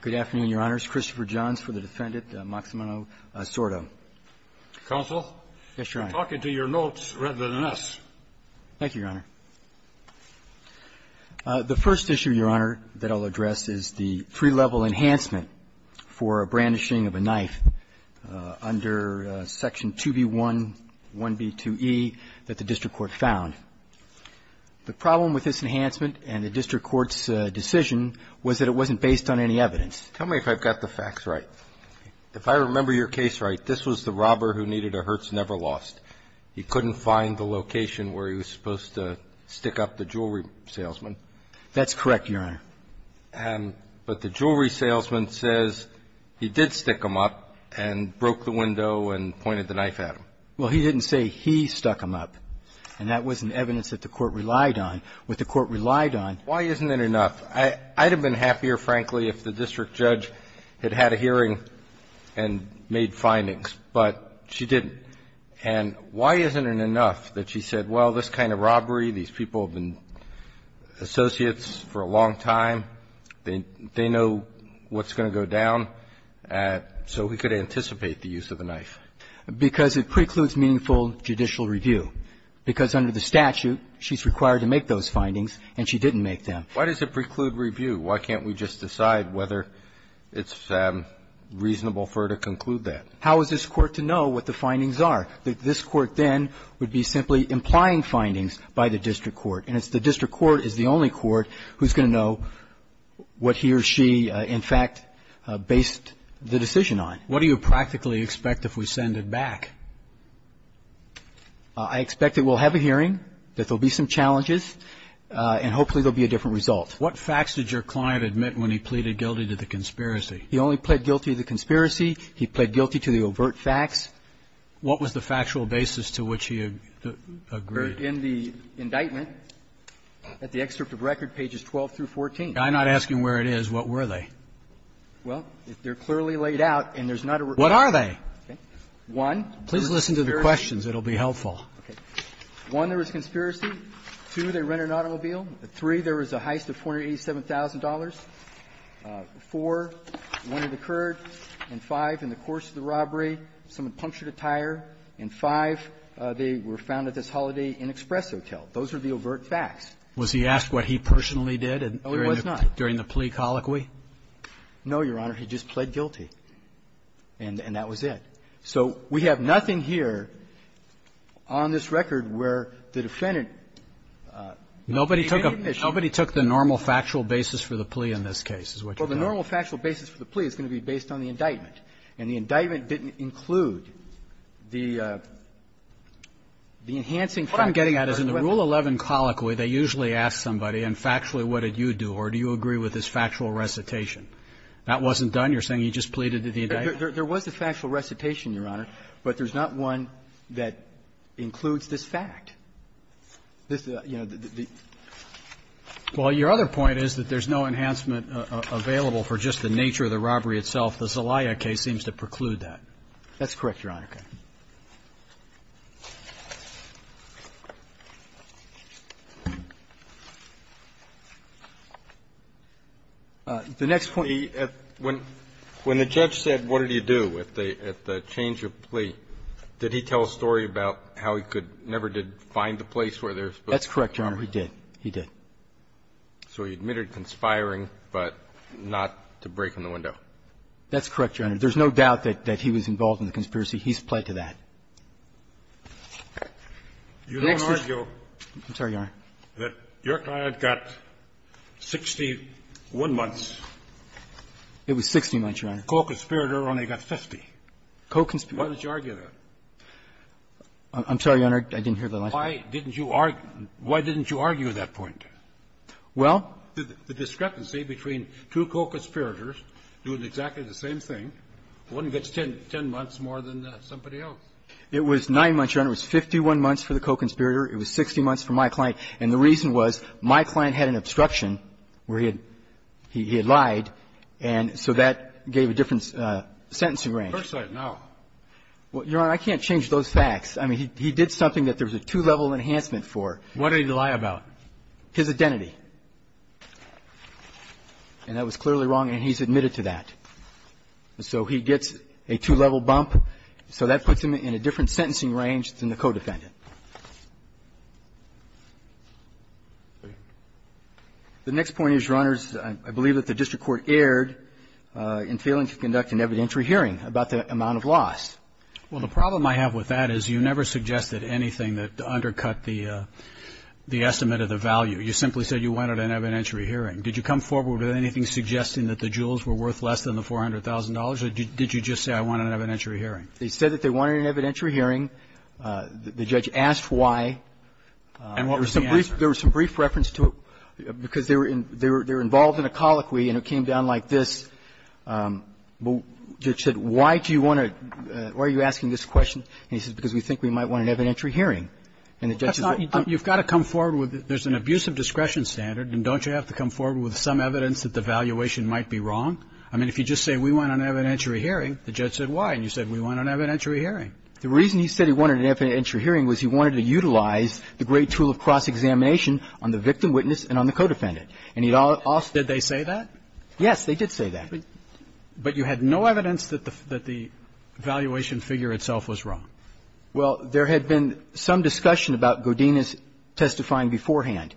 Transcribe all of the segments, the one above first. Good afternoon, Your Honor. It's Christopher Johns for the defendant, Maximino Sordo. Counsel? Yes, Your Honor. Talk into your notes rather than us. Thank you, Your Honor. The first issue, Your Honor, that I'll address is the free-level enhancement for a brandishing of a knife under Section 2B1, 1B2E that the district court found. The problem with this enhancement and the district court's decision was that it wasn't based on any evidence. Tell me if I've got the facts right. If I remember your case right, this was the robber who needed a Hertz Never Lost. He couldn't find the location where he was supposed to stick up the jewelry salesman. That's correct, Your Honor. But the jewelry salesman says he did stick him up and broke the window and pointed the knife at him. Well, he didn't say he stuck him up, and that wasn't evidence that the court relied on. What the court relied on was that he had a hearing and made findings, but she didn't. And why isn't it enough that she said, well, this kind of robbery, these people have been associates for a long time. They know what's going to go down, so we could anticipate the use of the knife? Because it precludes meaningful judicial review. Because under the statute, she's required to make those findings, and she didn't make them. Why does it preclude review? Why can't we just decide whether it's reasonable for her to conclude that? How is this Court to know what the findings are? This Court then would be simply implying findings by the district court. And it's the district court is the only court who's going to know what he or she, in fact, based the decision on. What do you practically expect if we send it back? I expect that we'll have a hearing, that there'll be some challenges, and hopefully there'll be a different result. What facts did your client admit when he pleaded guilty to the conspiracy? He only pled guilty to the conspiracy. He pled guilty to the overt facts. What was the factual basis to which he agreed? In the indictment, at the excerpt of record, pages 12 through 14. I'm not asking where it is. What were they? Well, they're clearly laid out, and there's not a record. What are they? One, there was a conspiracy. Please listen to the questions. It'll be helpful. Okay. One, there was a conspiracy. Two, they rented an automobile. Three, there was a heist of $487,000. Four, when it occurred. And five, in the course of the robbery, someone punctured a tire. And five, they were found at this Holiday Inn Express Hotel. Those are the overt facts. Was he asked what he personally did during the plea colloquy? No, Your Honor. He just pled guilty, and that was it. So we have nothing here on this record where the defendant made an admission. Nobody took the normal factual basis for the plea in this case, is what you're telling me. Well, the normal factual basis for the plea is going to be based on the indictment. And the indictment didn't include the enhancing fact that he personally did. What I'm getting at is in the Rule 11 colloquy, they usually ask somebody, and factually, what did you do? Or do you agree with this factual recitation? That wasn't done? You're saying he just pleaded the indictment? There was a factual recitation, Your Honor, but there's not one that includes this fact. This, you know, the the the the the the the the the the the the the the the the the Well, your other point is that there's no enhancement available for just the nature of the robbery itself. The Zelaya case seems to preclude that. That's correct, Your Honor. The next point he asked, when when the judge said, what did he do at the at the change of plea, did he tell a story about how he could never did find the place where there was both. That's correct, Your Honor, he did. He did. So he admitted conspiring, but not to break in the window. That's correct, Your Honor. There's no doubt that that he was involved in the conspiracy. He's plied to that. You don't argue that your client got 61 months. It was 60 months, Your Honor. A co-conspirator only got 50. Co-conspirator. Why did you argue that? I'm sorry, Your Honor, I didn't hear the last part. Why didn't you argue that point? Well, the discrepancy between two co-conspirators doing exactly the same thing, wouldn't get 10 months more than somebody else. It was 9 months, Your Honor. It was 51 months for the co-conspirator. It was 60 months for my client. And the reason was my client had an obstruction where he had lied. And so that gave a different sentencing range. First I know. Well, Your Honor, I can't change those facts. I mean, he did something that there was a two-level enhancement for. What did he lie about? His identity. And that was clearly wrong, and he's admitted to that. So he gets a two-level bump. So that puts him in a different sentencing range than the co-defendant. The next point is, Your Honor, I believe that the district court erred in failing to conduct an evidentiary hearing about the amount of loss. Well, the problem I have with that is you never suggested anything that undercut the estimate of the value. You simply said you wanted an evidentiary hearing. Did you come forward with anything suggesting that the jewels were worth less than the $400,000, or did you just say I want an evidentiary hearing? They said that they wanted an evidentiary hearing. The judge asked why. And what was the answer? There was some brief reference to it, because they were involved in a colloquy and it came down like this. The judge said, why do you want to why are you asking this question? And he said, because we think we might want an evidentiary hearing. And the judge said that. You've got to come forward with it. There's an abuse of discretion standard. And don't you have to come forward with some evidence that the valuation might be wrong? I mean, if you just say we want an evidentiary hearing, the judge said why. And you said we want an evidentiary hearing. The reason he said he wanted an evidentiary hearing was he wanted to utilize the great tool of cross-examination on the victim, witness, and on the co-defendant. And he also Did they say that? Yes, they did say that. But you had no evidence that the valuation figure itself was wrong. Well, there had been some discussion about Godinez testifying beforehand.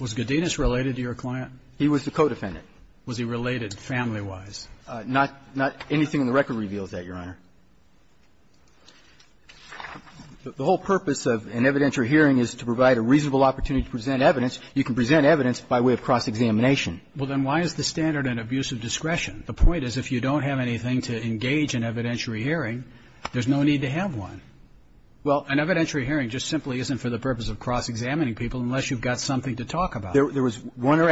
Was Godinez related to your client? He was the co-defendant. Was he related family-wise? Not anything in the record reveals that, Your Honor. The whole purpose of an evidentiary hearing is to provide a reasonable opportunity to present evidence. You can present evidence by way of cross-examination. Well, then why is the standard an abuse of discretion? The point is if you don't have anything to engage in evidentiary hearing, there's no need to have one. Well, an evidentiary hearing just simply isn't for the purpose of cross-examining people unless you've got something to talk about. There was one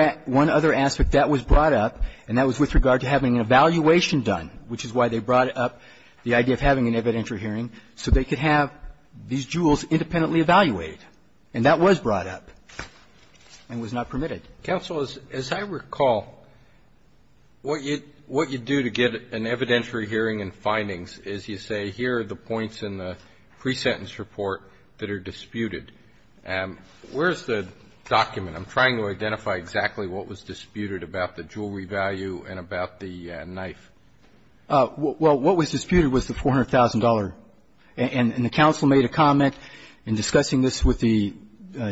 other aspect that was brought up, and that was with regard to having an evaluation done, which is why they brought up the idea of having an evidentiary hearing, so they could have these jewels independently evaluated. And that was brought up and was not permitted. Counsel, as I recall, what you do to get an evidentiary hearing and findings is you say, here are the points in the pre-sentence report that are disputed. Where's the document? I'm trying to identify exactly what was disputed about the jewelry value and about the knife. Well, what was disputed was the $400,000. And the counsel made a comment in discussing this with the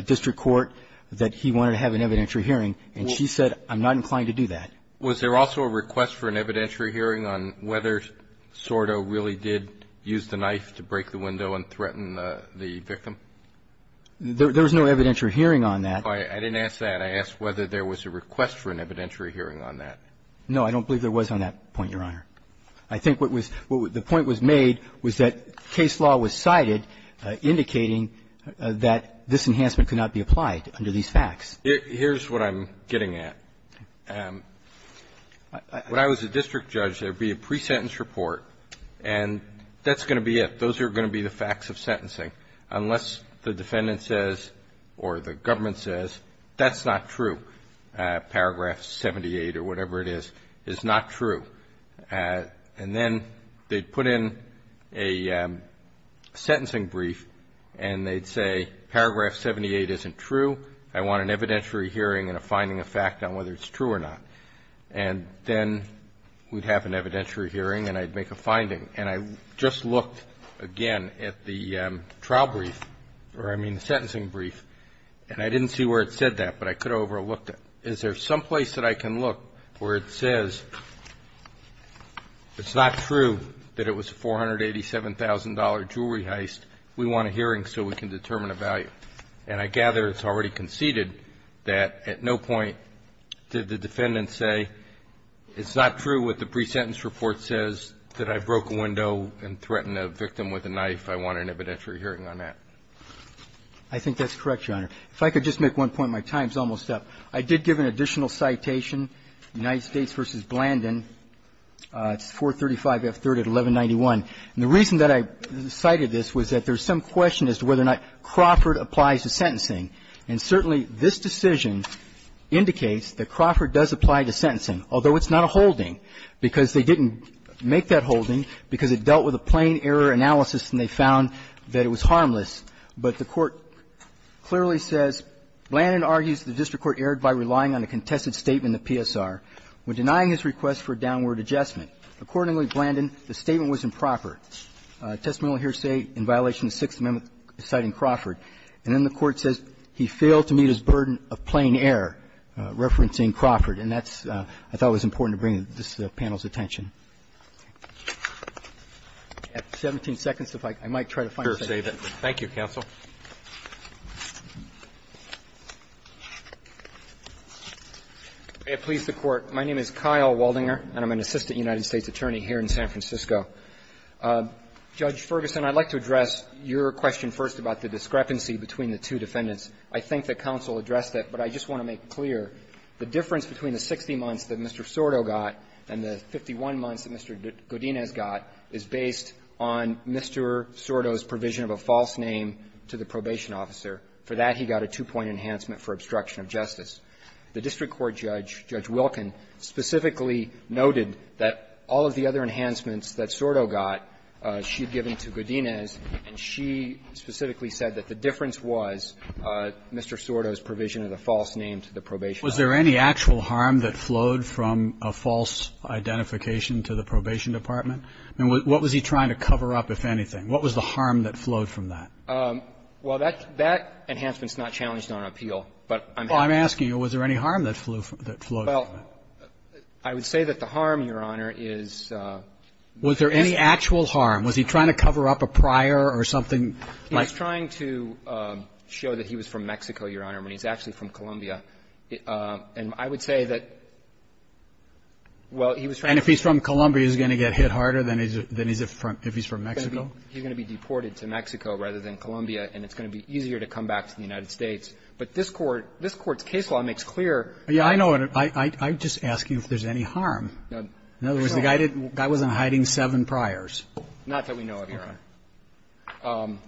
district court that he wanted to have an evidentiary hearing, and she said, I'm not inclined to do that. Was there also a request for an evidentiary hearing on whether Sordo really did use the knife to break the window and threaten the victim? There's no evidentiary hearing on that. I didn't ask that. I asked whether there was a request for an evidentiary hearing on that. No, I don't believe there was on that point, Your Honor. I think what was the point was made was that case law was cited indicating that this enhancement could not be applied under these facts. Here's what I'm getting at. When I was a district judge, there would be a pre-sentence report, and that's going to be it. Those are going to be the facts of sentencing. Unless the defendant says, or the government says, that's not true. Paragraph 78, or whatever it is, is not true. And then they'd put in a sentencing brief, and they'd say, Paragraph 78 isn't true. I want an evidentiary hearing and a finding of fact on whether it's true or not. And then we'd have an evidentiary hearing, and I'd make a finding. And I just looked, again, at the trial brief, or I mean the sentencing brief, and I didn't see where it said that, but I could have overlooked it. Is there some place that I can look where it says, it's not true that it was a $487,000 jewelry heist. We want a hearing so we can determine a value. And I gather it's already conceded that at no point did the defendant say, it's not true what the pre-sentence report says, that I broke a window and threatened a victim with a knife. I want an evidentiary hearing on that. I think that's correct, Your Honor. If I could just make one point, my time's almost up. I did give an additional citation, United States v. Blandin, it's 435 F. 3rd at 1191. And the reason that I cited this was that there's some question as to whether or not Crawford applies to sentencing. And certainly, this decision indicates that Crawford does apply to sentencing, although it's not a holding, because they didn't make that holding, because it dealt with a plain error analysis and they found that it was harmless. But the Court clearly says, Blandin argues the district court erred by relying on a contested statement of PSR when denying his request for a downward adjustment. Accordingly, Blandin, the statement was improper, a testament of hearsay in violation of the Sixth Amendment, citing Crawford. And then the Court says he failed to meet his burden of plain error, referencing Crawford. And that's what I thought was important to bring to this panel's attention. At 17 seconds, if I might try to find a second. Roberts. Thank you, counsel. May it please the Court. My name is Kyle Waldinger, and I'm an assistant United States attorney here in San Francisco. Judge Ferguson, I'd like to address your question first about the discrepancy between the two defendants. I think that counsel addressed that, but I just want to make clear the difference between the 60 months that Mr. Sordo got and the 51 months that Mr. Godinez got is based on Mr. Sordo's provision of a false name to the probation officer. For that, he got a two-point enhancement for obstruction of justice. The district court judge, Judge Wilkin, specifically noted that all of the other enhancements that Sordo got, she'd given to Godinez, and she specifically said that the difference was Mr. Sordo's provision of a false name to the probation officer. Was there any actual harm that flowed from a false identification to the probation department? I mean, what was he trying to cover up, if anything? What was the harm that flowed from that? Well, that enhancement's not challenged on appeal, but I'm asking you, was there any harm that flew from it? Well, I would say that the harm, Your Honor, is the real one. Was there any actual harm? Was he trying to cover up a prior or something like that? He was trying to show that he was from Mexico, Your Honor, when he's actually from Colombia. And I would say that, well, he was trying to show that he was from Mexico. And if he's from Colombia, he's going to get hit harder than if he's from Mexico? He's going to be deported to Mexico rather than Colombia, and it's going to be easier to come back to the United States. But this Court's case law makes clear that there's no harm. Yeah, I know. I'm just asking if there's any harm. In other words, the guy didn't – the guy wasn't hiding seven priors. Not that we know of, Your Honor. Okay.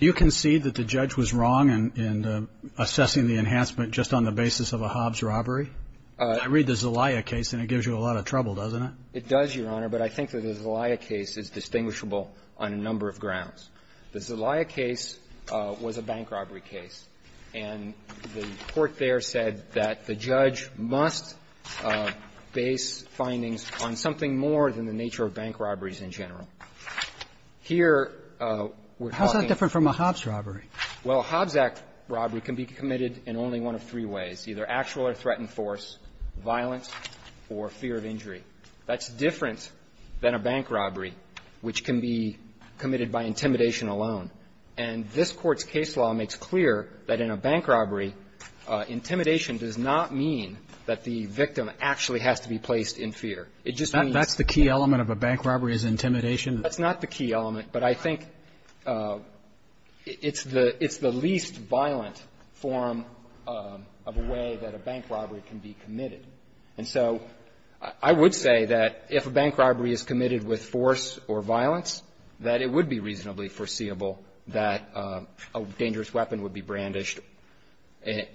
You concede that the judge was wrong in assessing the enhancement just on the basis of a Hobbs robbery? I read the Zelaya case, and it gives you a lot of trouble, doesn't it? It does, Your Honor, but I think that the Zelaya case is distinguishable on a number of grounds. The Zelaya case was a bank robbery case, and the court there said that the judge must base findings on something more than the nature of bank robberies in general. Here, we're talking – How is that different from a Hobbs robbery? Well, a Hobbs act robbery can be committed in only one of three ways, either actual or threatened force, violence, or fear of injury. That's different than a bank robbery, which can be committed by intimidation alone. And this Court's case law makes clear that in a bank robbery, intimidation does not mean that the victim actually has to be placed in fear. It just means – That's the key element of a bank robbery is intimidation? That's not the key element. But I think it's the least violent form of a way that a bank robbery can be committed. And so I would say that if a bank robbery is committed with force or violence, that it would be reasonably foreseeable that a dangerous weapon would be brandished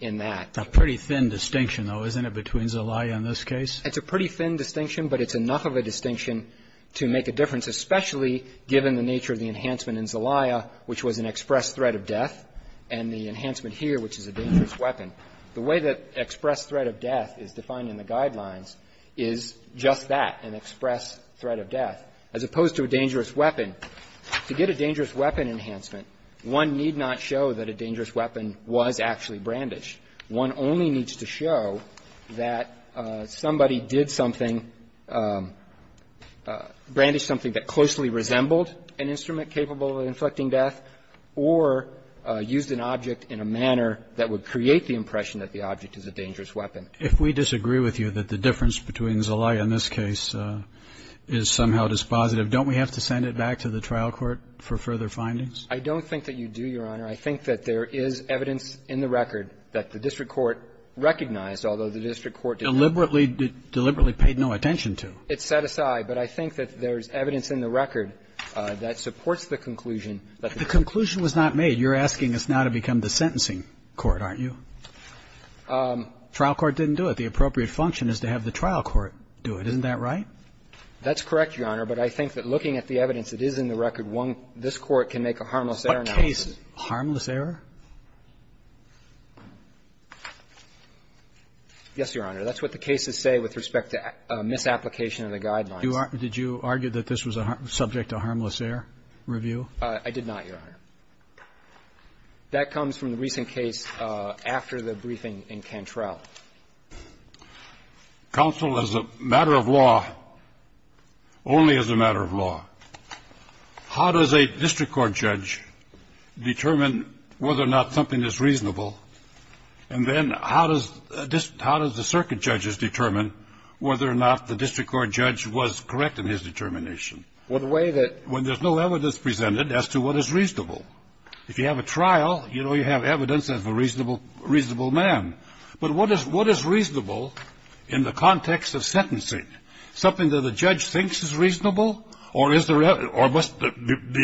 in that. A pretty thin distinction, though, isn't it, between Zelaya and this case? It's a pretty thin distinction, but it's enough of a distinction to make a difference, especially given the nature of the enhancement in Zelaya, which was an express threat of death, and the enhancement here, which is a dangerous weapon. The way that express threat of death is defined in the Guidelines is just that, an express threat of death, as opposed to a dangerous weapon. To get a dangerous weapon enhancement, one need not show that a dangerous weapon was actually brandished. One only needs to show that somebody did something, brandished something that closely resembled an instrument capable of inflicting death or used an object in a manner that would create the impression that the object is a dangerous weapon. If we disagree with you that the difference between Zelaya and this case is somehow dispositive, don't we have to send it back to the trial court for further findings? I don't think that you do, Your Honor. I think that there is evidence in the record that the district court recognized, although the district court did not. Deliberately paid no attention to. It's set aside, but I think that there's evidence in the record that supports the conclusion that the district court. If the conclusion was not made, you're asking us now to become the sentencing court, aren't you? Trial court didn't do it. The appropriate function is to have the trial court do it. Isn't that right? That's correct, Your Honor, but I think that looking at the evidence that is in the record, one, this court can make a harmless error now. Harmless error? Yes, Your Honor. That's what the cases say with respect to misapplication of the guidelines. Did you argue that this was subject to harmless error review? I did not, Your Honor. That comes from the recent case after the briefing in Cantrell. Counsel, as a matter of law, only as a matter of law, how does a district court judge determine whether or not something is reasonable, and then how does the circuit judge determine whether or not the district court judge was correct in his determination? Well, the way that – When there's no evidence presented as to what is reasonable. If you have a trial, you know you have evidence of a reasonable man. But what is reasonable in the context of sentencing? Something that the judge thinks is reasonable, or is there – or must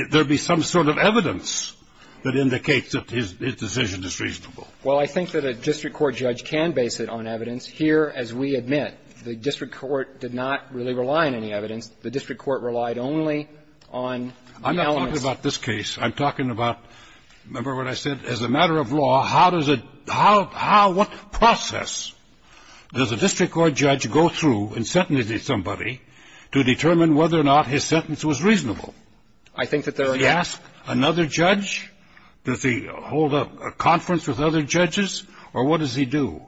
there be some sort of evidence that indicates that his decision is reasonable? Well, I think that a district court judge can base it on evidence. Here, as we admit, the district court did not really rely on any evidence. The district court relied only on the elements of the evidence. I'm not talking about this case. I'm talking about, remember what I said, as a matter of law, how does it – how – what process does a district court judge go through in sentencing somebody to determine whether or not his sentence was reasonable? I think that there are – Does he ask another judge? Does he hold a conference with other judges? Or what does he do?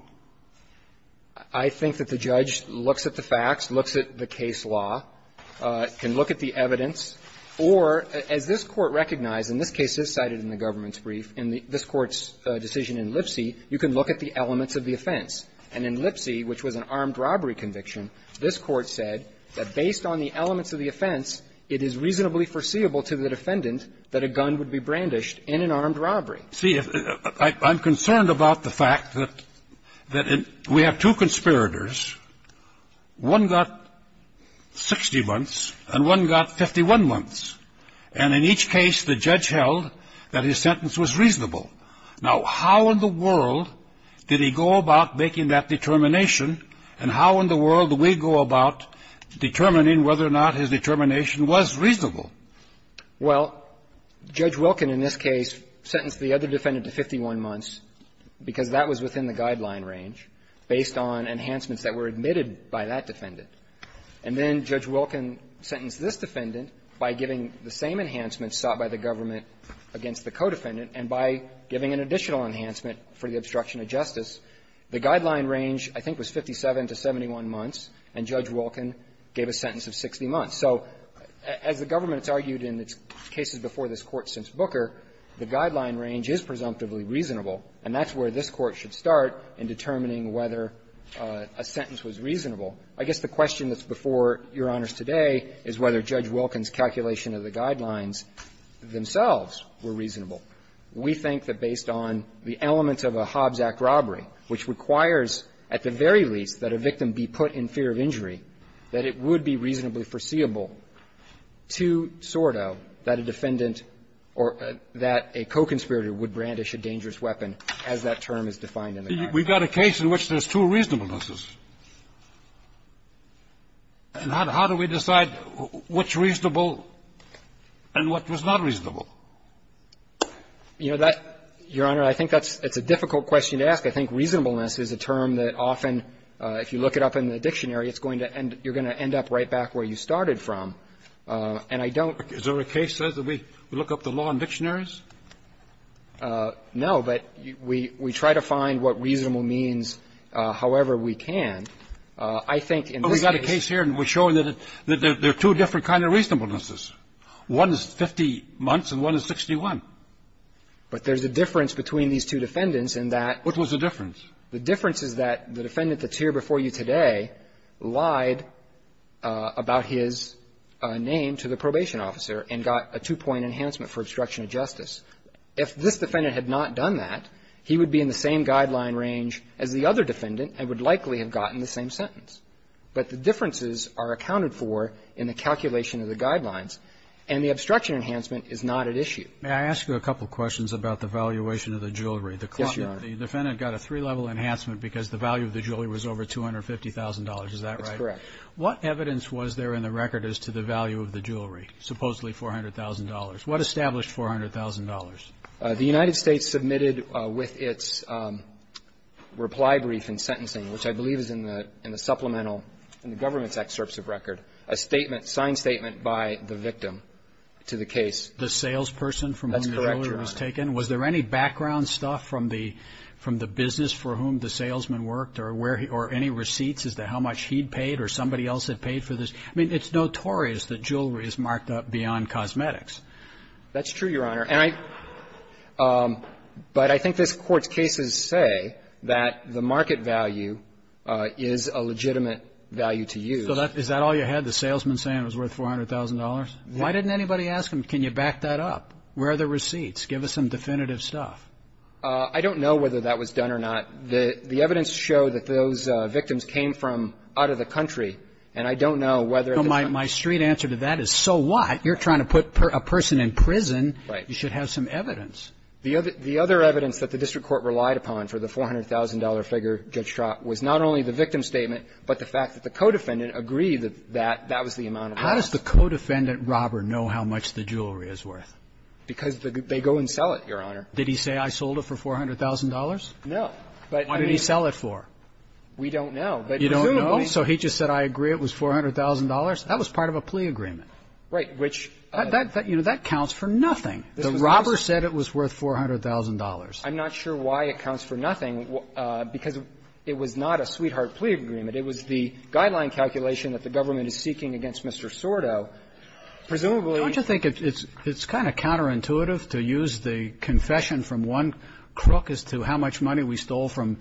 I think that the judge looks at the facts, looks at the case law, can look at the evidence, or, as this Court recognized, and this case is cited in the government's brief, in this Court's decision in Lipsy, you can look at the elements of the offense. And in Lipsy, which was an armed robbery conviction, this Court said that based on the elements of the offense, it is reasonably foreseeable to the defendant that a gun would be brandished in an armed robbery. See, I'm concerned about the fact that we have two conspirators. One got 60 months and one got 51 months. And in each case, the judge held that his sentence was reasonable. Now, how in the world did he go about making that determination, and how in the world do we go about determining whether or not his determination was reasonable? Well, Judge Wilkin in this case sentenced the other defendant to 51 months because that was within the guideline range based on enhancements that were admitted by that defendant. And then Judge Wilkin sentenced this defendant by giving the same enhancements sought by the government against the co-defendant and by giving an additional enhancement for the obstruction of justice. The guideline range, I think, was 57 to 71 months, and Judge Wilkin gave a sentence of 60 months. So as the government has argued in its cases before this Court since Booker, the guideline range is presumptively reasonable, and that's where this Court should start in determining whether a sentence was reasonable. I guess the question that's before Your Honors today is whether Judge Wilkin's calculation of the guidelines themselves were reasonable. We think that based on the elements of a Hobbs Act robbery, which requires at the very least that a victim be put in fear of injury, that it would be reasonably foreseeable to Sordo that a defendant or that a co-conspirator would brandish We've got a case in which there's two reasonablenesses, and how do we decide which is reasonable and what was not reasonable? You know, that, Your Honor, I think that's a difficult question to ask. I think reasonableness is a term that often, if you look it up in the dictionary, it's going to end up you're going to end up right back where you started from. And I don't Is there a case that says we look up the law in dictionaries? No, but we try to find what reasonable means however we can. I think in this case But we've got a case here and we're showing that there are two different kinds of reasonablenesses. One is 50 months and one is 61. But there's a difference between these two defendants in that What was the difference? The difference is that the defendant that's here before you today lied about his name to the probation officer and got a two-point enhancement for obstruction of justice. If this defendant had not done that, he would be in the same guideline range as the other defendant and would likely have gotten the same sentence. But the differences are accounted for in the calculation of the guidelines, and the obstruction enhancement is not at issue. May I ask you a couple questions about the valuation of the jewelry? Yes, Your Honor. The defendant got a three-level enhancement because the value of the jewelry was over $250,000. Is that right? That's correct. What evidence was there in the record as to the value of the jewelry, supposedly $400,000? What established $400,000? The United States submitted with its reply brief and sentencing, which I believe is in the supplemental, in the government's excerpts of record, a statement, a signed statement by the victim to the case. The salesperson from whom the jewelry was taken? That's correct, Your Honor. Was there any background stuff from the business for whom the salesman worked or any receipts? Is there any evidence as to how much he'd paid or somebody else had paid for this? I mean, it's notorious that jewelry is marked up beyond cosmetics. That's true, Your Honor. And I – but I think this Court's cases say that the market value is a legitimate value to use. So that – is that all you had, the salesman saying it was worth $400,000? Why didn't anybody ask him, can you back that up? Where are the receipts? Give us some definitive stuff. I don't know whether that was done or not. The evidence showed that those victims came from out of the country, and I don't know whether the – No, my straight answer to that is, so what? You're trying to put a person in prison. Right. You should have some evidence. The other evidence that the district court relied upon for the $400,000 figure, Judge Trott, was not only the victim statement, but the fact that the co-defendant agreed that that was the amount of money. How does the co-defendant robber know how much the jewelry is worth? Because they go and sell it, Your Honor. Did he say, I sold it for $400,000? No. Why did he sell it for? We don't know. You don't know? So he just said, I agree, it was $400,000? That was part of a plea agreement. Right. Which – That counts for nothing. The robber said it was worth $400,000. I'm not sure why it counts for nothing, because it was not a sweetheart plea agreement. It was the guideline calculation that the government is seeking against Mr. Sordo. Presumably – Don't you think it's kind of counterintuitive to use the confession from one crook as to how much money we stole from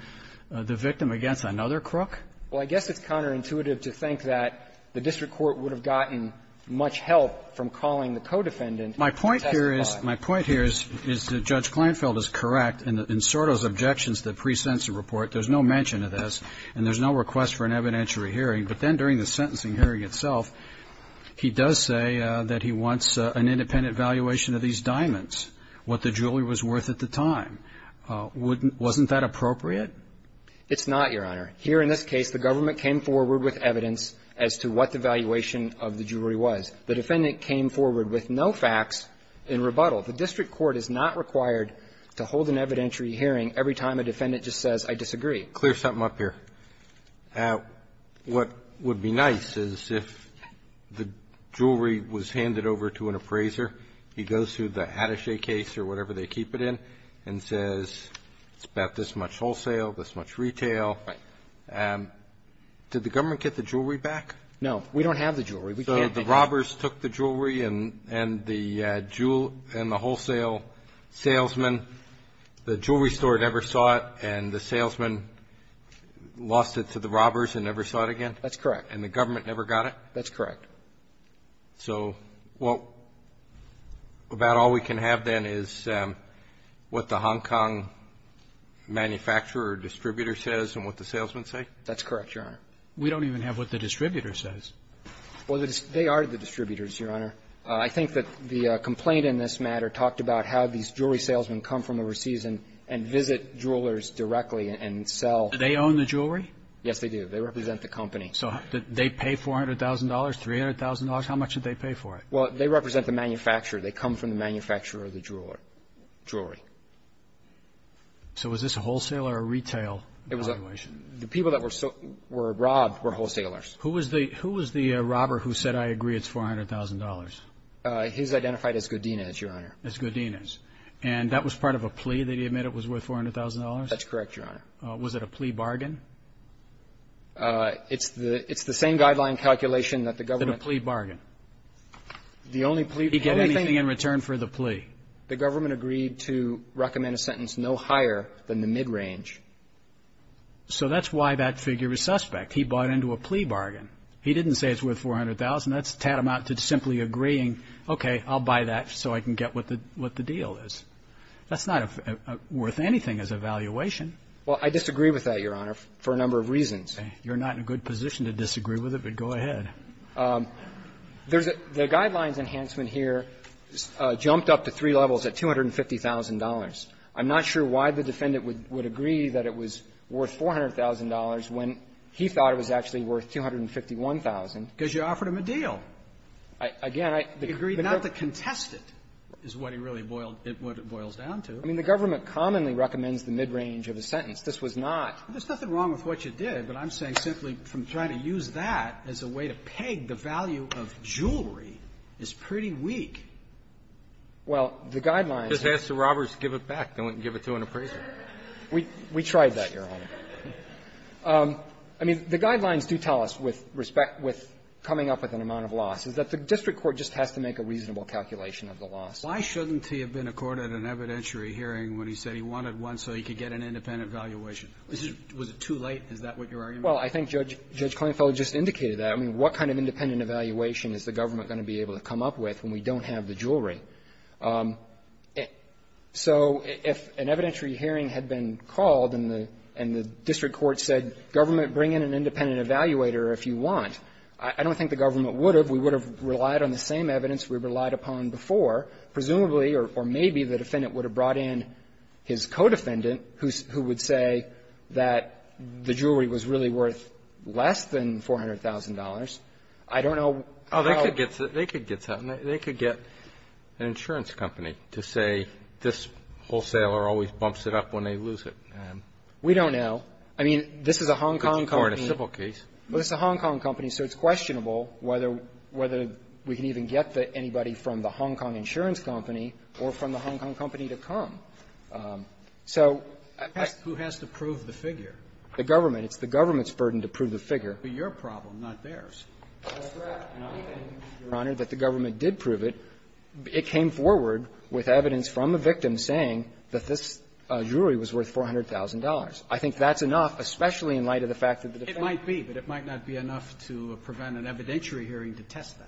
the victim against another crook? Well, I guess it's counterintuitive to think that the district court would have gotten much help from calling the co-defendant to testify. My point here is – my point here is that Judge Kleinfeld is correct in Sordo's objections to the pre-sentence report. There's no mention of this, and there's no request for an evidentiary hearing. But then during the sentencing hearing itself, he does say that he wants an independent valuation of these diamonds, what the jewelry was worth at the time. Wouldn't – wasn't that appropriate? It's not, Your Honor. Here in this case, the government came forward with evidence as to what the valuation of the jewelry was. The defendant came forward with no facts in rebuttal. The district court is not required to hold an evidentiary hearing every time a defendant just says, I disagree. Clear something up here. What would be nice is if the jewelry was handed over to an appraiser, he goes through or whatever they keep it in, and says, it's about this much wholesale, this much retail. Right. Did the government get the jewelry back? No. We don't have the jewelry. We can't take it. So the robbers took the jewelry, and the jewel – and the wholesale salesman, the jewelry store never saw it, and the salesman lost it to the robbers and never saw it again? That's correct. And the government never got it? That's correct. So what – about all we can have, then, is what the Hong Kong manufacturer or distributor says and what the salesman say? That's correct, Your Honor. We don't even have what the distributor says. Well, they are the distributors, Your Honor. I think that the complaint in this matter talked about how these jewelry salesmen come from overseas and visit jewelers directly and sell. Do they own the jewelry? Yes, they do. They represent the company. So did they pay $400,000, $300,000? How much did they pay for it? Well, they represent the manufacturer. They come from the manufacturer of the jewelry. So was this a wholesaler or retail valuation? The people that were robbed were wholesalers. Who was the robber who said, I agree, it's $400,000? He's identified as Godinez, Your Honor. As Godinez. And that was part of a plea that he admitted was worth $400,000? That's correct, Your Honor. Was it a plea bargain? It's the same guideline calculation that the government ---- It's a plea bargain. The only plea bargain ---- He get anything in return for the plea. The government agreed to recommend a sentence no higher than the midrange. So that's why that figure is suspect. He bought into a plea bargain. He didn't say it's worth $400,000. That's tantamount to simply agreeing, okay, I'll buy that so I can get what the deal is. That's not worth anything as a valuation. Well, I disagree with that, Your Honor. For a number of reasons. You're not in a good position to disagree with it, but go ahead. There's a ---- the guidelines enhancement here jumped up to three levels at $250,000. I'm not sure why the defendant would agree that it was worth $400,000 when he thought it was actually worth $251,000. Because you offered him a deal. Again, I ---- He agreed not to contest it is what he really boiled ---- what it boils down to. I mean, the government commonly recommends the midrange of a sentence. This was not. There's nothing wrong with what you did, but I'm saying simply from trying to use that as a way to peg the value of jewelry is pretty weak. Well, the guidelines ---- Just ask the robbers to give it back. They wouldn't give it to an appraiser. We tried that, Your Honor. I mean, the guidelines do tell us with respect to coming up with an amount of loss is that the district court just has to make a reasonable calculation of the loss. Why shouldn't he have been accorded an evidentiary hearing when he said he wanted one so he could get an independent valuation? Was it too late? Is that what you're arguing? Well, I think Judge Klainfelder just indicated that. I mean, what kind of independent evaluation is the government going to be able to come up with when we don't have the jewelry? So if an evidentiary hearing had been called and the district court said, government, bring in an independent evaluator if you want, I don't think the government would have. We would have relied on the same evidence we relied upon before, presumably or maybe the defendant would have brought in his co-defendant who would say that the jewelry was really worth less than $400,000. I don't know how they could get that. They could get an insurance company to say this wholesaler always bumps it up when they lose it. We don't know. I mean, this is a Hong Kong case. Well, it's a Hong Kong company, so it's questionable whether we can even get anybody from the Hong Kong insurance company or from the Hong Kong company to come. So I think that's the question. Who has to prove the figure? The government. It's the government's burden to prove the figure. But your problem, not theirs. That's right. And I think, Your Honor, that the government did prove it. It came forward with evidence from the victim saying that this jewelry was worth $400,000. I think that's enough, especially in light of the fact that the defendant It might be, but it might not be enough to prevent an evidentiary hearing to test that.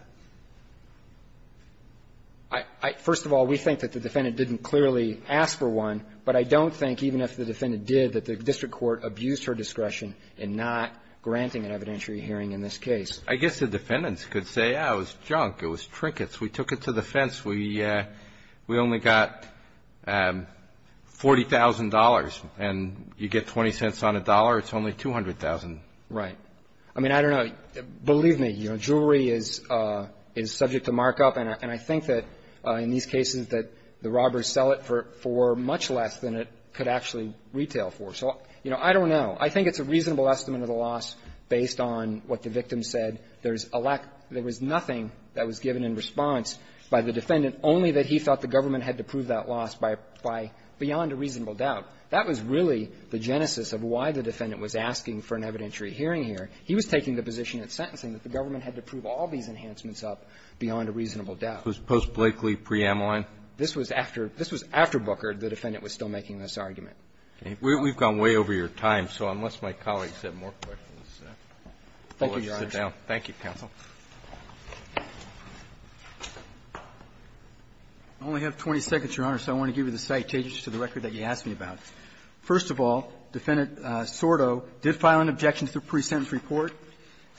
First of all, we think that the defendant didn't clearly ask for one, but I don't think, even if the defendant did, that the district court abused her discretion in not granting an evidentiary hearing in this case. I guess the defendants could say, yeah, it was junk, it was trinkets. We took it to the fence. We only got $40,000, and you get 20 cents on a dollar, it's only $200,000. Right. I mean, I don't know. Believe me, you know, jewelry is subject to markup, and I think that in these cases that the robbers sell it for much less than it could actually retail for. So, you know, I don't know. I think it's a reasonable estimate of the loss based on what the victim said. There's a lack of – there was nothing that was given in response by the defendant, only that he thought the government had to prove that loss by – by beyond a reasonable doubt. That was really the genesis of why the defendant was asking for an evidentiary hearing here. He was taking the position at sentencing that the government had to prove all these enhancements up beyond a reasonable doubt. This was post-Blakely, pre-Ameline? This was after – this was after Booker, the defendant was still making this argument. Okay. We've gone way over your time, so unless my colleagues have more questions, I'll let you sit down. Thank you, Your Honor. Thank you, counsel. I only have 20 seconds, Your Honor, so I want to give you the citations to the record that you asked me about. First of all, Defendant Sordo did file an objection to the pre-sentence report.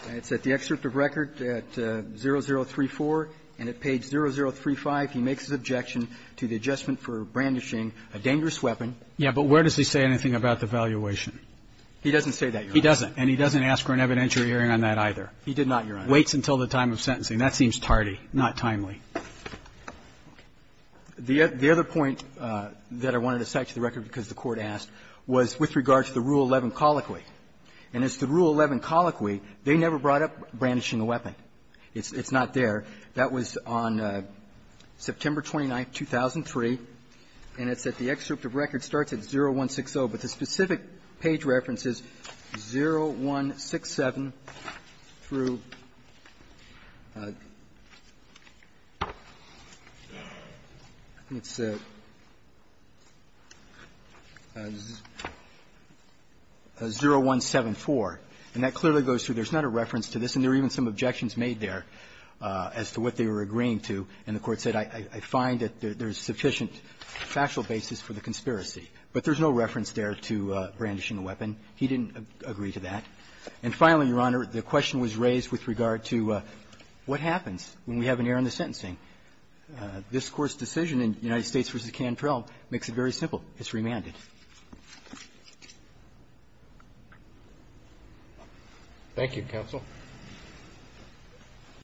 It's at the excerpt of record at 0034, and at page 0035, he makes his objection to the adjustment for brandishing a dangerous weapon. Yeah, but where does he say anything about the valuation? He doesn't say that, Your Honor. He doesn't. And he doesn't ask for an evidentiary hearing on that either. He did not, Your Honor. Waits until the time of sentencing. That seems tardy, not timely. The other point that I wanted to cite to the record because the Court asked was with regard to the Rule 11 colloquy. And it's the Rule 11 colloquy, they never brought up brandishing a weapon. It's not there. That was on September 29th, 2003, and it's at the excerpt of record, starts at 0160. But the specific page reference is 0167 through, I think it's 0174. And that clearly goes through. There's not a reference to this. And there are even some objections made there as to what they were agreeing to. And the Court said, I find that there's sufficient factual basis for the conspiracy. But there's no reference there to brandishing a weapon. He didn't agree to that. And finally, Your Honor, the question was raised with regard to what happens when we have an error in the sentencing. This Court's decision in United States v. Cantrell makes it very simple. It's remanded. Roberts.